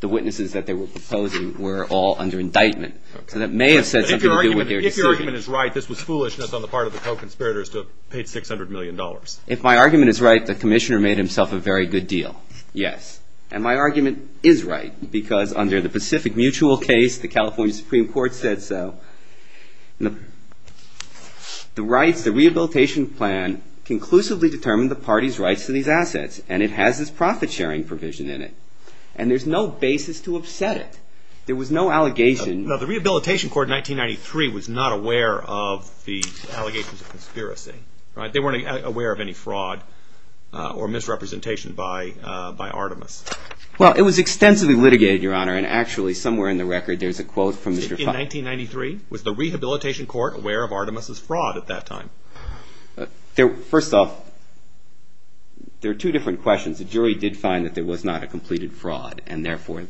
the witnesses that they were proposing were all under indictment. So that may have said something to do with their decision. If your argument is right, this was foolishness on the part of the co-conspirators to have paid $600 million. If my argument is right, the commissioner made himself a very good deal. Yes. And my argument is right because under the Pacific Mutual case, the California Supreme Court said so. The rehabilitation plan conclusively determined the party's rights to these assets and it has this profit sharing provision in it. And there's no basis to upset it. There was no allegation. The Rehabilitation Court in 1993 was not aware of the allegations of conspiracy. They weren't aware of any fraud or misrepresentation by Artemis. Well, it was extensively litigated, Your Honor, and actually somewhere in the record there's a quote from Mr. Fontana. In 1993, was the Rehabilitation Court aware of Artemis' fraud at that time? First off, there are two different questions. The jury did find that there was not a completed fraud and therefore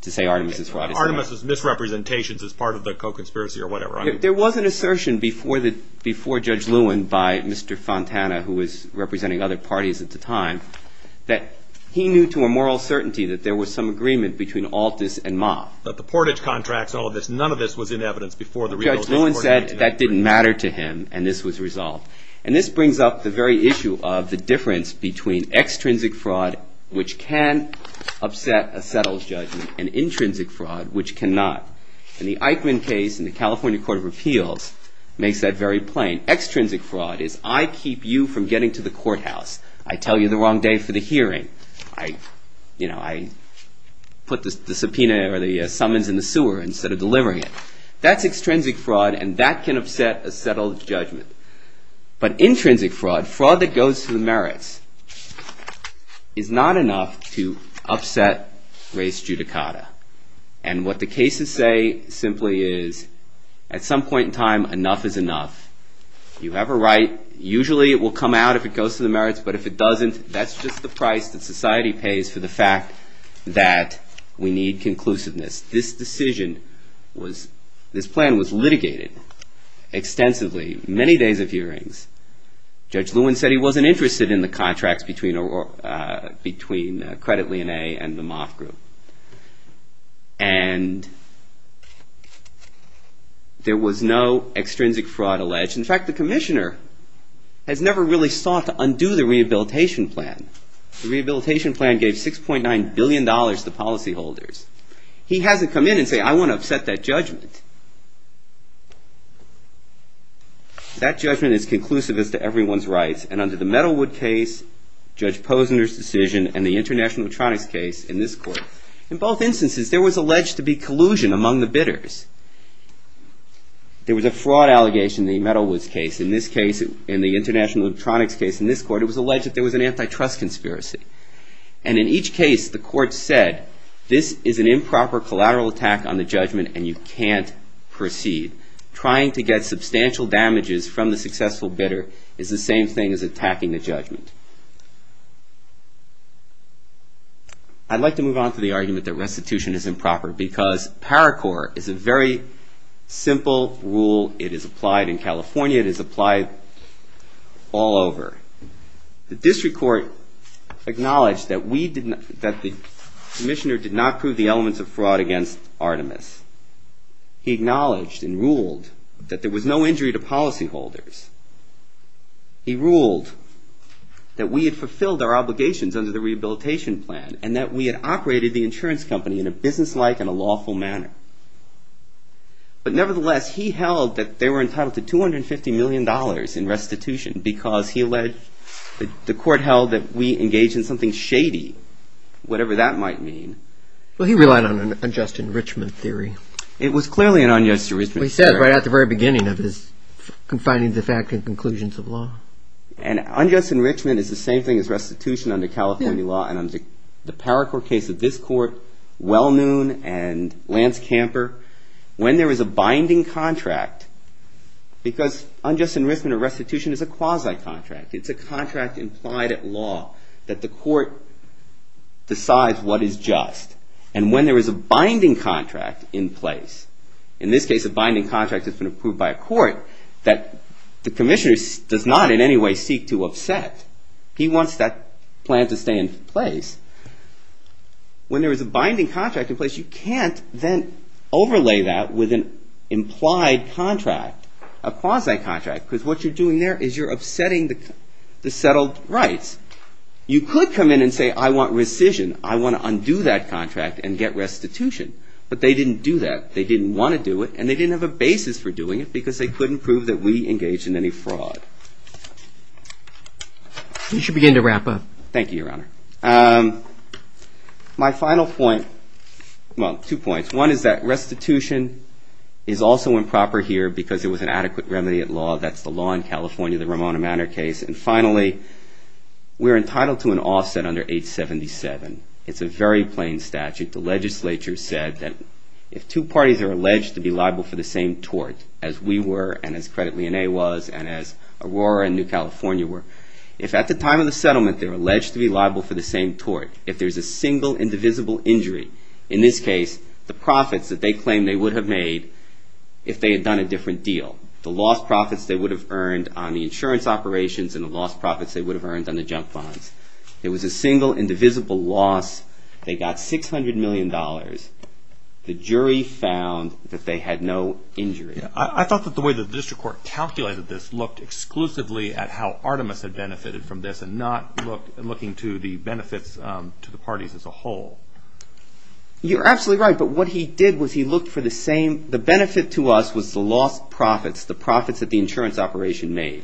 to say Artemis' fraud is not. Artemis' misrepresentations as part of the co-conspiracy or whatever. There was an assertion before Judge Lewin by Mr. Fontana, who was representing other parties at the time, that he knew to a moral certainty that there was some agreement between Altus and Ma. But the portage contracts and all of this, none of this was in evidence before the Rehabilitation Court? Judge Lewin said that didn't matter to him and this was resolved. And this brings up the very issue of the difference between extrinsic fraud, which can upset a settled judgment, and intrinsic fraud, which cannot. And the Eichmann case in the California Court of Appeals makes that very plain. Extrinsic fraud is I keep you from getting to the courthouse. I tell you the wrong day for the hearing. I put the subpoena or the summons in the sewer instead of delivering it. That's extrinsic fraud and that can upset a settled judgment. But intrinsic fraud, fraud that goes to the merits, is not enough to upset res judicata. And what the cases say simply is at some point in time enough is enough. You have a right. Usually it will come out if it goes to the merits, but if it doesn't, that's just the price that society pays for the fact that we need conclusiveness. This decision was, this plan was litigated extensively, many days of hearings. Judge Lewin said he wasn't interested in the contracts between Credit Lien A and the Moth Group. And there was no extrinsic fraud alleged. In fact, the commissioner has never really sought to undo the rehabilitation plan. The rehabilitation plan gave $6.9 billion to policyholders. He hasn't come in and said I want to upset that judgment. That judgment is conclusive as to everyone's rights. And under the Metalwood case, Judge Posner's decision, and the International Electronics case in this court, in both instances there was alleged to be collusion among the bidders. There was a fraud allegation in the Metalwoods case. In this case, in the International Electronics case in this court, it was alleged that there was an antitrust conspiracy. And in each case the court said this is an improper collateral attack on the judgment and you can't proceed. Trying to get substantial damages from the successful bidder is the same thing as attacking the judgment. I'd like to move on to the argument that restitution is improper because Paracore is a very simple rule. It is applied in California. It is applied all over. The district court acknowledged that the commissioner did not prove the elements of fraud against Artemis. He acknowledged and ruled that there was no injury to policyholders. He ruled that we had fulfilled our obligations under the rehabilitation plan and that we had operated the insurance company in a businesslike and a lawful manner. But nevertheless, he held that they were entitled to $250 million in restitution because the court held that we engaged in something shady, whatever that might mean. Well, he relied on an unjust enrichment theory. It was clearly an unjust enrichment theory. He said right at the very beginning of this, confining the fact and conclusions of law. And unjust enrichment is the same thing as restitution under California law. And under the Paracore case of this court, Wellnoon and Lance Camper, when there is a binding contract, because unjust enrichment or restitution is a quasi-contract. It's a contract implied at law that the court decides what is just. And when there is a binding contract in place, in this case a binding contract that's been approved by a court, that the commissioner does not in any way seek to upset. He wants that plan to stay in place. When there is a binding contract in place, you can't then overlay that with an implied contract, a quasi-contract, because what you're doing there is you're upsetting the settled rights. You could come in and say, I want rescission. I want to undo that contract and get restitution. But they didn't do that. They didn't want to do it, and they didn't have a basis for doing it because they couldn't prove that we engaged in any fraud. You should begin to wrap up. Thank you, Your Honor. My final point, well, two points. One is that restitution is also improper here because it was an adequate remedy at law. That's the law in California, the Ramona Manor case. And finally, we're entitled to an offset under 877. It's a very plain statute. The legislature said that if two parties are alleged to be liable for the same tort as we were and as Credit Lyonnais was and as Aurora and New California were, if at the time of the settlement they're alleged to be liable for the same tort, if there's a single indivisible injury, in this case, the profits that they claim they would have made if they had done a different deal, the lost profits they would have earned on the insurance operations and the lost profits they would have earned on the junk bonds, there was a single indivisible loss. They got $600 million. The jury found that they had no injury. I thought that the way the district court calculated this looked exclusively at how Artemis had benefited from this and not looking to the benefits to the parties as a whole. You're absolutely right, but what he did was he looked for the same. The benefit to us was the lost profits, the profits that the insurance operation made.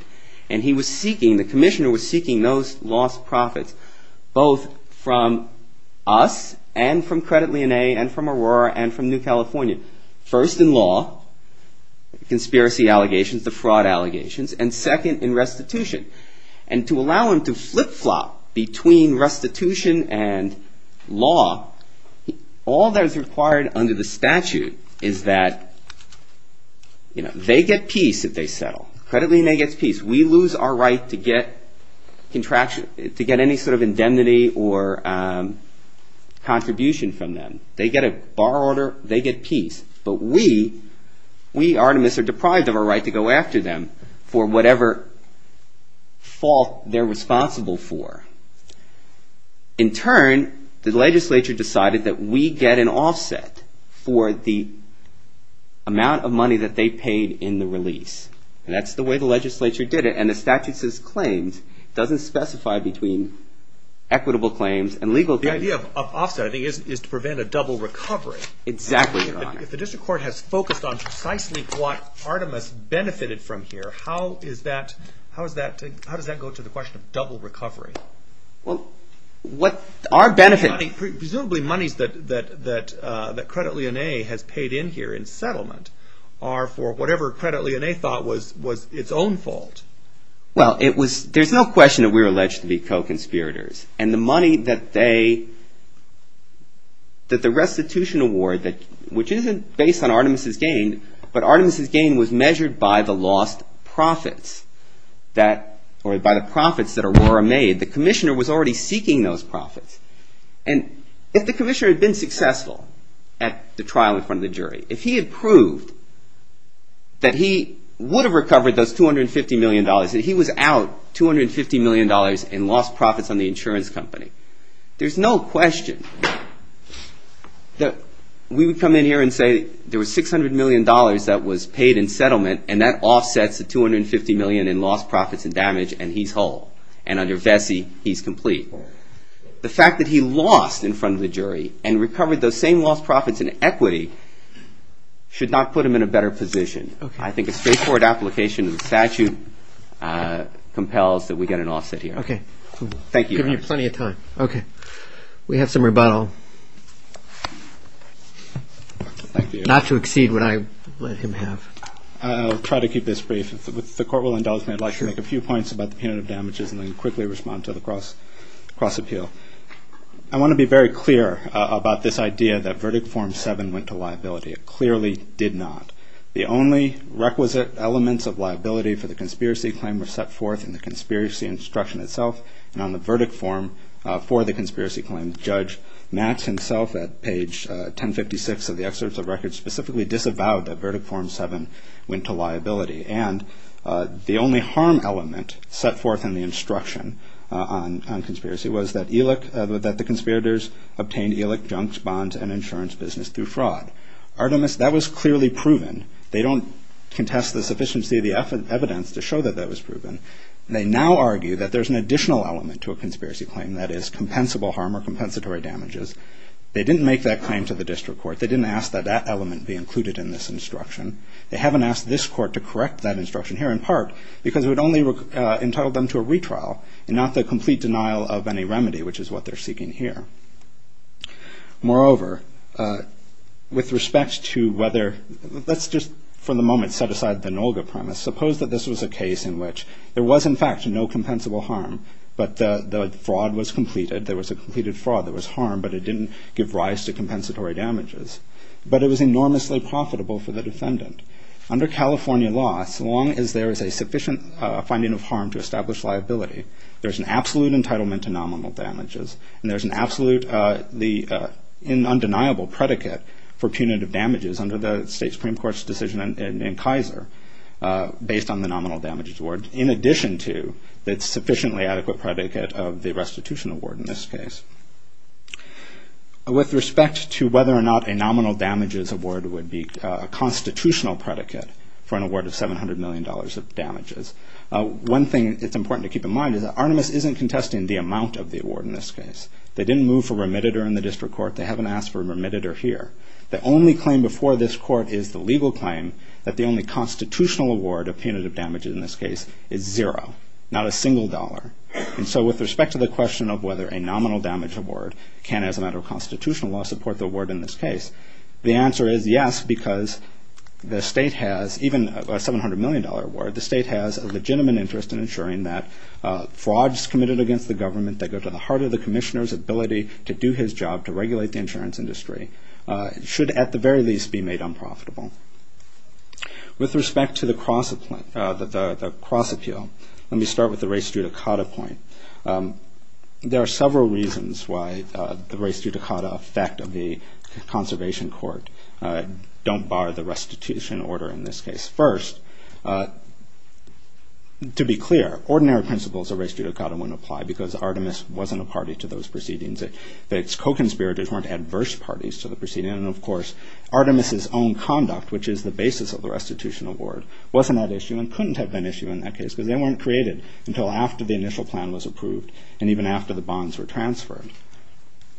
And he was seeking, the commissioner was seeking those lost profits both from us and from Credit Lyonnais and from Aurora and from New California. First, in law, conspiracy allegations, the fraud allegations, and second, in restitution. And to allow him to flip-flop between restitution and law, all that is required under the statute is that they get peace if they settle. Credit Lyonnais gets peace. We lose our right to get any sort of indemnity or contribution from them. They get a bar order. They get peace. But we, we, Artemis, are deprived of our right to go after them for whatever fault they're responsible for. In turn, the legislature decided that we get an offset for the amount of money that they paid in the release. And that's the way the legislature did it. And the statute says claims. It doesn't specify between equitable claims and legal claims. The idea of offsetting is to prevent a double recovery. Exactly, Your Honor. If the district court has focused on precisely what Artemis benefited from here, how is that, how does that go to the question of double recovery? Well, what our benefit. Presumably monies that Credit Lyonnais has paid in here in settlement are for whatever Credit Lyonnais thought was its own fault. Well, it was, there's no question that we were alleged to be co-conspirators. And the money that they, that the restitution award, which isn't based on Artemis' gain, but Artemis' gain was measured by the lost profits that, or by the profits that Aurora made. The commissioner was already seeking those profits. And if the commissioner had been successful at the trial in front of the jury, if he had proved that he would have recovered those $250 million, that he was out $250 million in lost profits on the insurance company, there's no question that we would come in here and say there was $600 million that was paid in settlement, and that offsets the $250 million in lost profits and damage, and he's whole. And under Vesey, he's complete. The fact that he lost in front of the jury and recovered those same lost profits in equity should not put him in a better position. I think a straightforward application of the statute compels that we get an offset here. Okay. Thank you. I've given you plenty of time. Okay. We have some rebuttal. Not to exceed what I let him have. I'll try to keep this brief. If the court will indulge me, I'd like to make a few points about the punitive damages and then quickly respond to the cross-appeal. I want to be very clear about this idea that Verdict Form 7 went to liability. It clearly did not. The only requisite elements of liability for the conspiracy claim were set forth in the conspiracy instruction itself and on the verdict form for the conspiracy claim. Judge Max himself, at page 1056 of the excerpts of records, specifically disavowed that Verdict Form 7 went to liability. And the only harm element set forth in the instruction on conspiracy was that the conspirators obtained ELIC junks, bonds, and insurance business through fraud. Artemis, that was clearly proven. They don't contest the sufficiency of the evidence to show that that was proven. They now argue that there's an additional element to a conspiracy claim, that is, compensable harm or compensatory damages. They didn't make that claim to the district court. They didn't ask that that element be included in this instruction. They haven't asked this court to correct that instruction here, in part because it would only entitle them to a retrial and not the complete denial of any remedy, which is what they're seeking here. Moreover, with respect to whether... Let's just, for the moment, set aside the NOLGA premise. Suppose that this was a case in which there was, in fact, no compensable harm, but the fraud was completed. There was a completed fraud. There was harm, but it didn't give rise to compensatory damages. But it was enormously profitable for the defendant. Under California law, so long as there is a sufficient finding of harm to establish liability, there's an absolute entitlement to nominal damages and there's an undeniable predicate for punitive damages under the state Supreme Court's decision in Kaiser based on the nominal damages award, in addition to the sufficiently adequate predicate of the restitution award in this case. With respect to whether or not a nominal damages award would be a constitutional predicate for an award of $700 million of damages, one thing that's important to keep in mind is that Artemis isn't contesting the amount of the award in this case. They didn't move for remitted or in the district court. They haven't asked for remitted or here. The only claim before this court is the legal claim that the only constitutional award of punitive damages in this case is zero, not a single dollar. And so with respect to the question of whether a nominal damage award can, as a matter of constitutional law, support the award in this case, the answer is yes, because the state has, even a $700 million award, the state has a legitimate interest in ensuring that frauds committed against the government that go to the heart of the commissioner's ability to do his job to regulate the insurance industry should at the very least be made unprofitable. With respect to the cross appeal, let me start with the res judicata point. There are several reasons why the res judicata effect of the conservation court don't bar the restitution order in this case. First, to be clear, ordinary principles of res judicata wouldn't apply because Artemis wasn't a party to those proceedings. Its co-conspirators weren't adverse parties to the proceedings. And, of course, Artemis' own conduct, which is the basis of the restitution award, wasn't at issue and couldn't have been issue in that case because they weren't created until after the initial plan was approved and even after the bonds were transferred.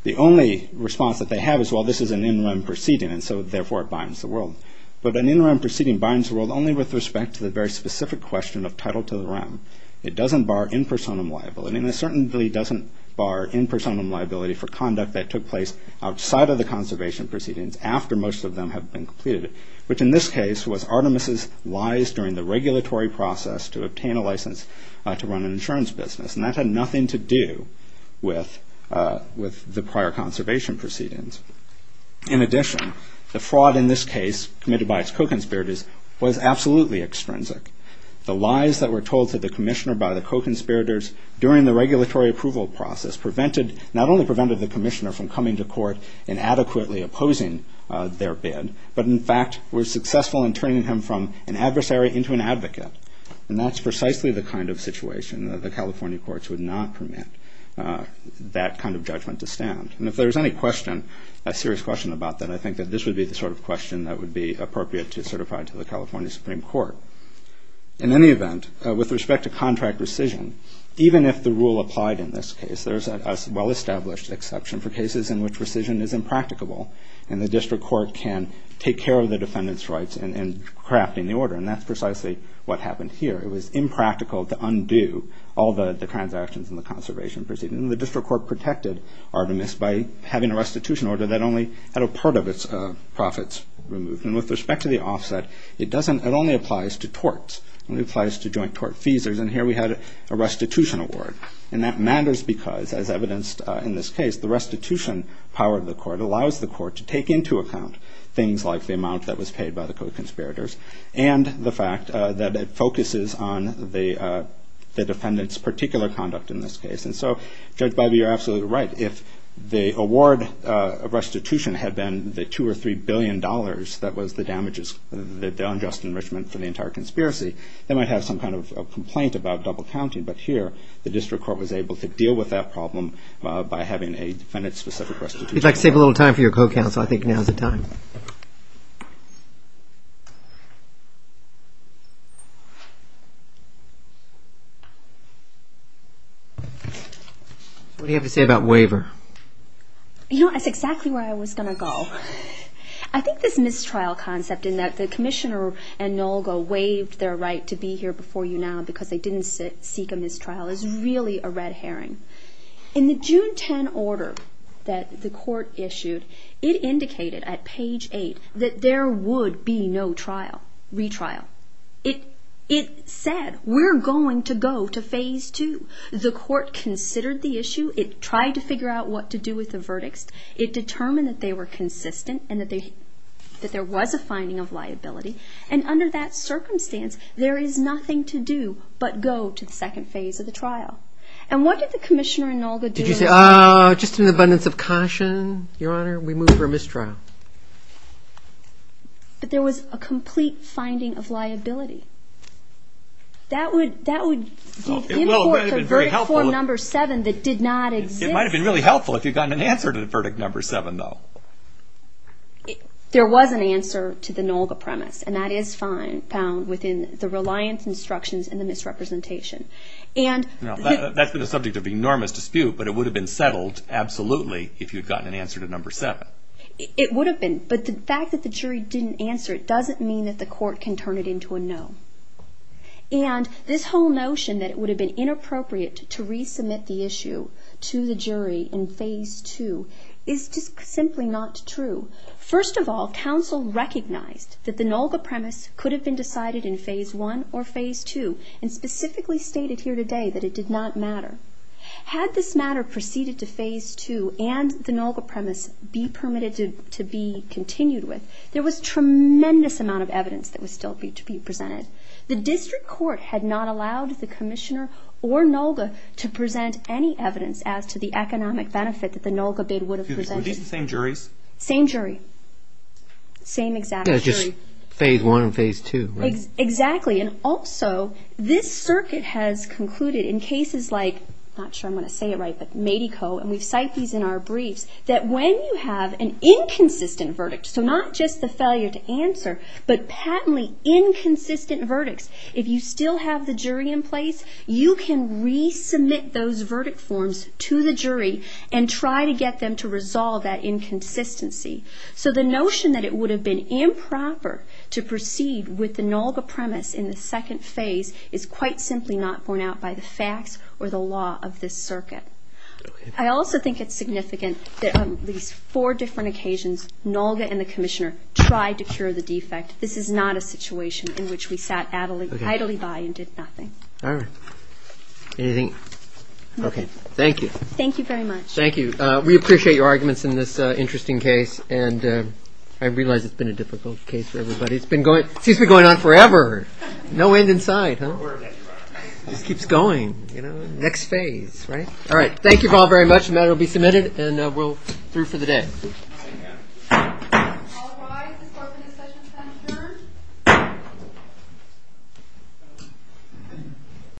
The only response that they have is, well, this is an interim proceeding, and so therefore it binds the world. But an interim proceeding binds the world only with respect to the very specific question of title to the realm. It doesn't bar in personam liability, and it certainly doesn't bar in personam liability for conduct that took place outside of the conservation proceedings after most of them have been completed, which in this case was Artemis' lies during the regulatory process to obtain a license to run an insurance business. And that had nothing to do with the prior conservation proceedings. In addition, the fraud in this case committed by its co-conspirators was absolutely extrinsic. The lies that were told to the commissioner by the co-conspirators during the regulatory approval process not only prevented the commissioner from coming to court and adequately opposing their bid, but in fact were successful in turning him from an adversary into an advocate. And that's precisely the kind of situation that the California courts would not permit that kind of judgment to stand. And if there's any question, a serious question about that, I think that this would be the sort of question that would be appropriate to certify to the California Supreme Court. In any event, with respect to contract rescission, even if the rule applied in this case, there's a well-established exception for cases in which rescission is impracticable and the district court can take care of the defendant's rights in crafting the order, and that's precisely what happened here. It was impractical to undo all the transactions in the conservation proceedings. And the district court protected Artemis by having a restitution order that only had a part of its profits removed. And with respect to the offset, it only applies to torts. It only applies to joint-tort fees. And here we had a restitution award. And that matters because, as evidenced in this case, the restitution power of the court allows the court to take into account things like the amount that was paid by the co-conspirators and the fact that it focuses on the defendant's particular conduct in this case. And so, Judge Biby, you're absolutely right. If the award of restitution had been the $2 or $3 billion that was the damages, the unjust enrichment for the entire conspiracy, they might have some kind of complaint about double-counting. But here, the district court was able to deal with that problem by having a defendant-specific restitution order. We'd like to save a little time for your co-counsel. I think now is the time. What do you have to say about waiver? You know, that's exactly where I was going to go. I think this mistrial concept in that the commissioner and NOLGO waived their right to be here before you now because they didn't seek a mistrial is really a red herring. In the June 10 order that the court issued, it indicated at page 8 that there would be no retrial. It said, we're going to go to phase 2. The court considered the issue. It tried to figure out what to do with the verdicts. It determined that they were consistent and that there was a finding of liability. And under that circumstance, there is nothing to do but go to the second phase of the trial. And what did the commissioner and NOLGO do? Did you say, ah, just an abundance of caution, Your Honor? We move for a mistrial. But there was a complete finding of liability. That would import the verdict form number 7 that did not exist. It might have been really helpful if you'd gotten an answer to the verdict number 7, though. There was an answer to the NOLGO premise, and that is found within the reliance instructions and the misrepresentation. That's been a subject of enormous dispute, but it would have been settled absolutely if you'd gotten an answer to number 7. It would have been. But the fact that the jury didn't answer it doesn't mean that the court can turn it into a no. And this whole notion that it would have been inappropriate to resubmit the issue to the jury in phase 2 is just simply not true. First of all, counsel recognized that the NOLGO premise could have been decided in phase 1 or phase 2 and specifically stated here today that it did not matter. Had this matter proceeded to phase 2 and the NOLGO premise be permitted to be continued with, there was tremendous amount of evidence that was still to be presented. The district court had not allowed the commissioner or NOLGO to present any evidence as to the economic benefit that the NOLGO bid would have presented. Were these the same juries? Same jury. Same exact jury. Just phase 1 and phase 2, right? Exactly. And also, this circuit has concluded in cases like, I'm not sure I'm going to say it right, but Medeco, and we cite these in our briefs, that when you have an inconsistent verdict, so not just the failure to answer, but patently inconsistent verdicts, if you still have the jury in place, you can resubmit those verdict forms to the jury and try to get them to resolve that inconsistency. So the notion that it would have been improper to proceed with the NOLGO premise in the second phase is quite simply not borne out by the facts or the law of this circuit. I also think it's significant that on at least four different occasions, NOLGO and the commissioner tried to cure the defect. This is not a situation in which we sat idly by and did nothing. All right. Anything? No. Okay. Thank you. Thank you very much. Thank you. We appreciate your arguments in this interesting case, and I realize it's been a difficult case for everybody. It seems to be going on forever. No end in sight, huh? It just keeps going. Next phase, right? All right. Thank you all very much. The matter will be submitted, and we're through for the day. Thank you. All rise. This court for this session is adjourned.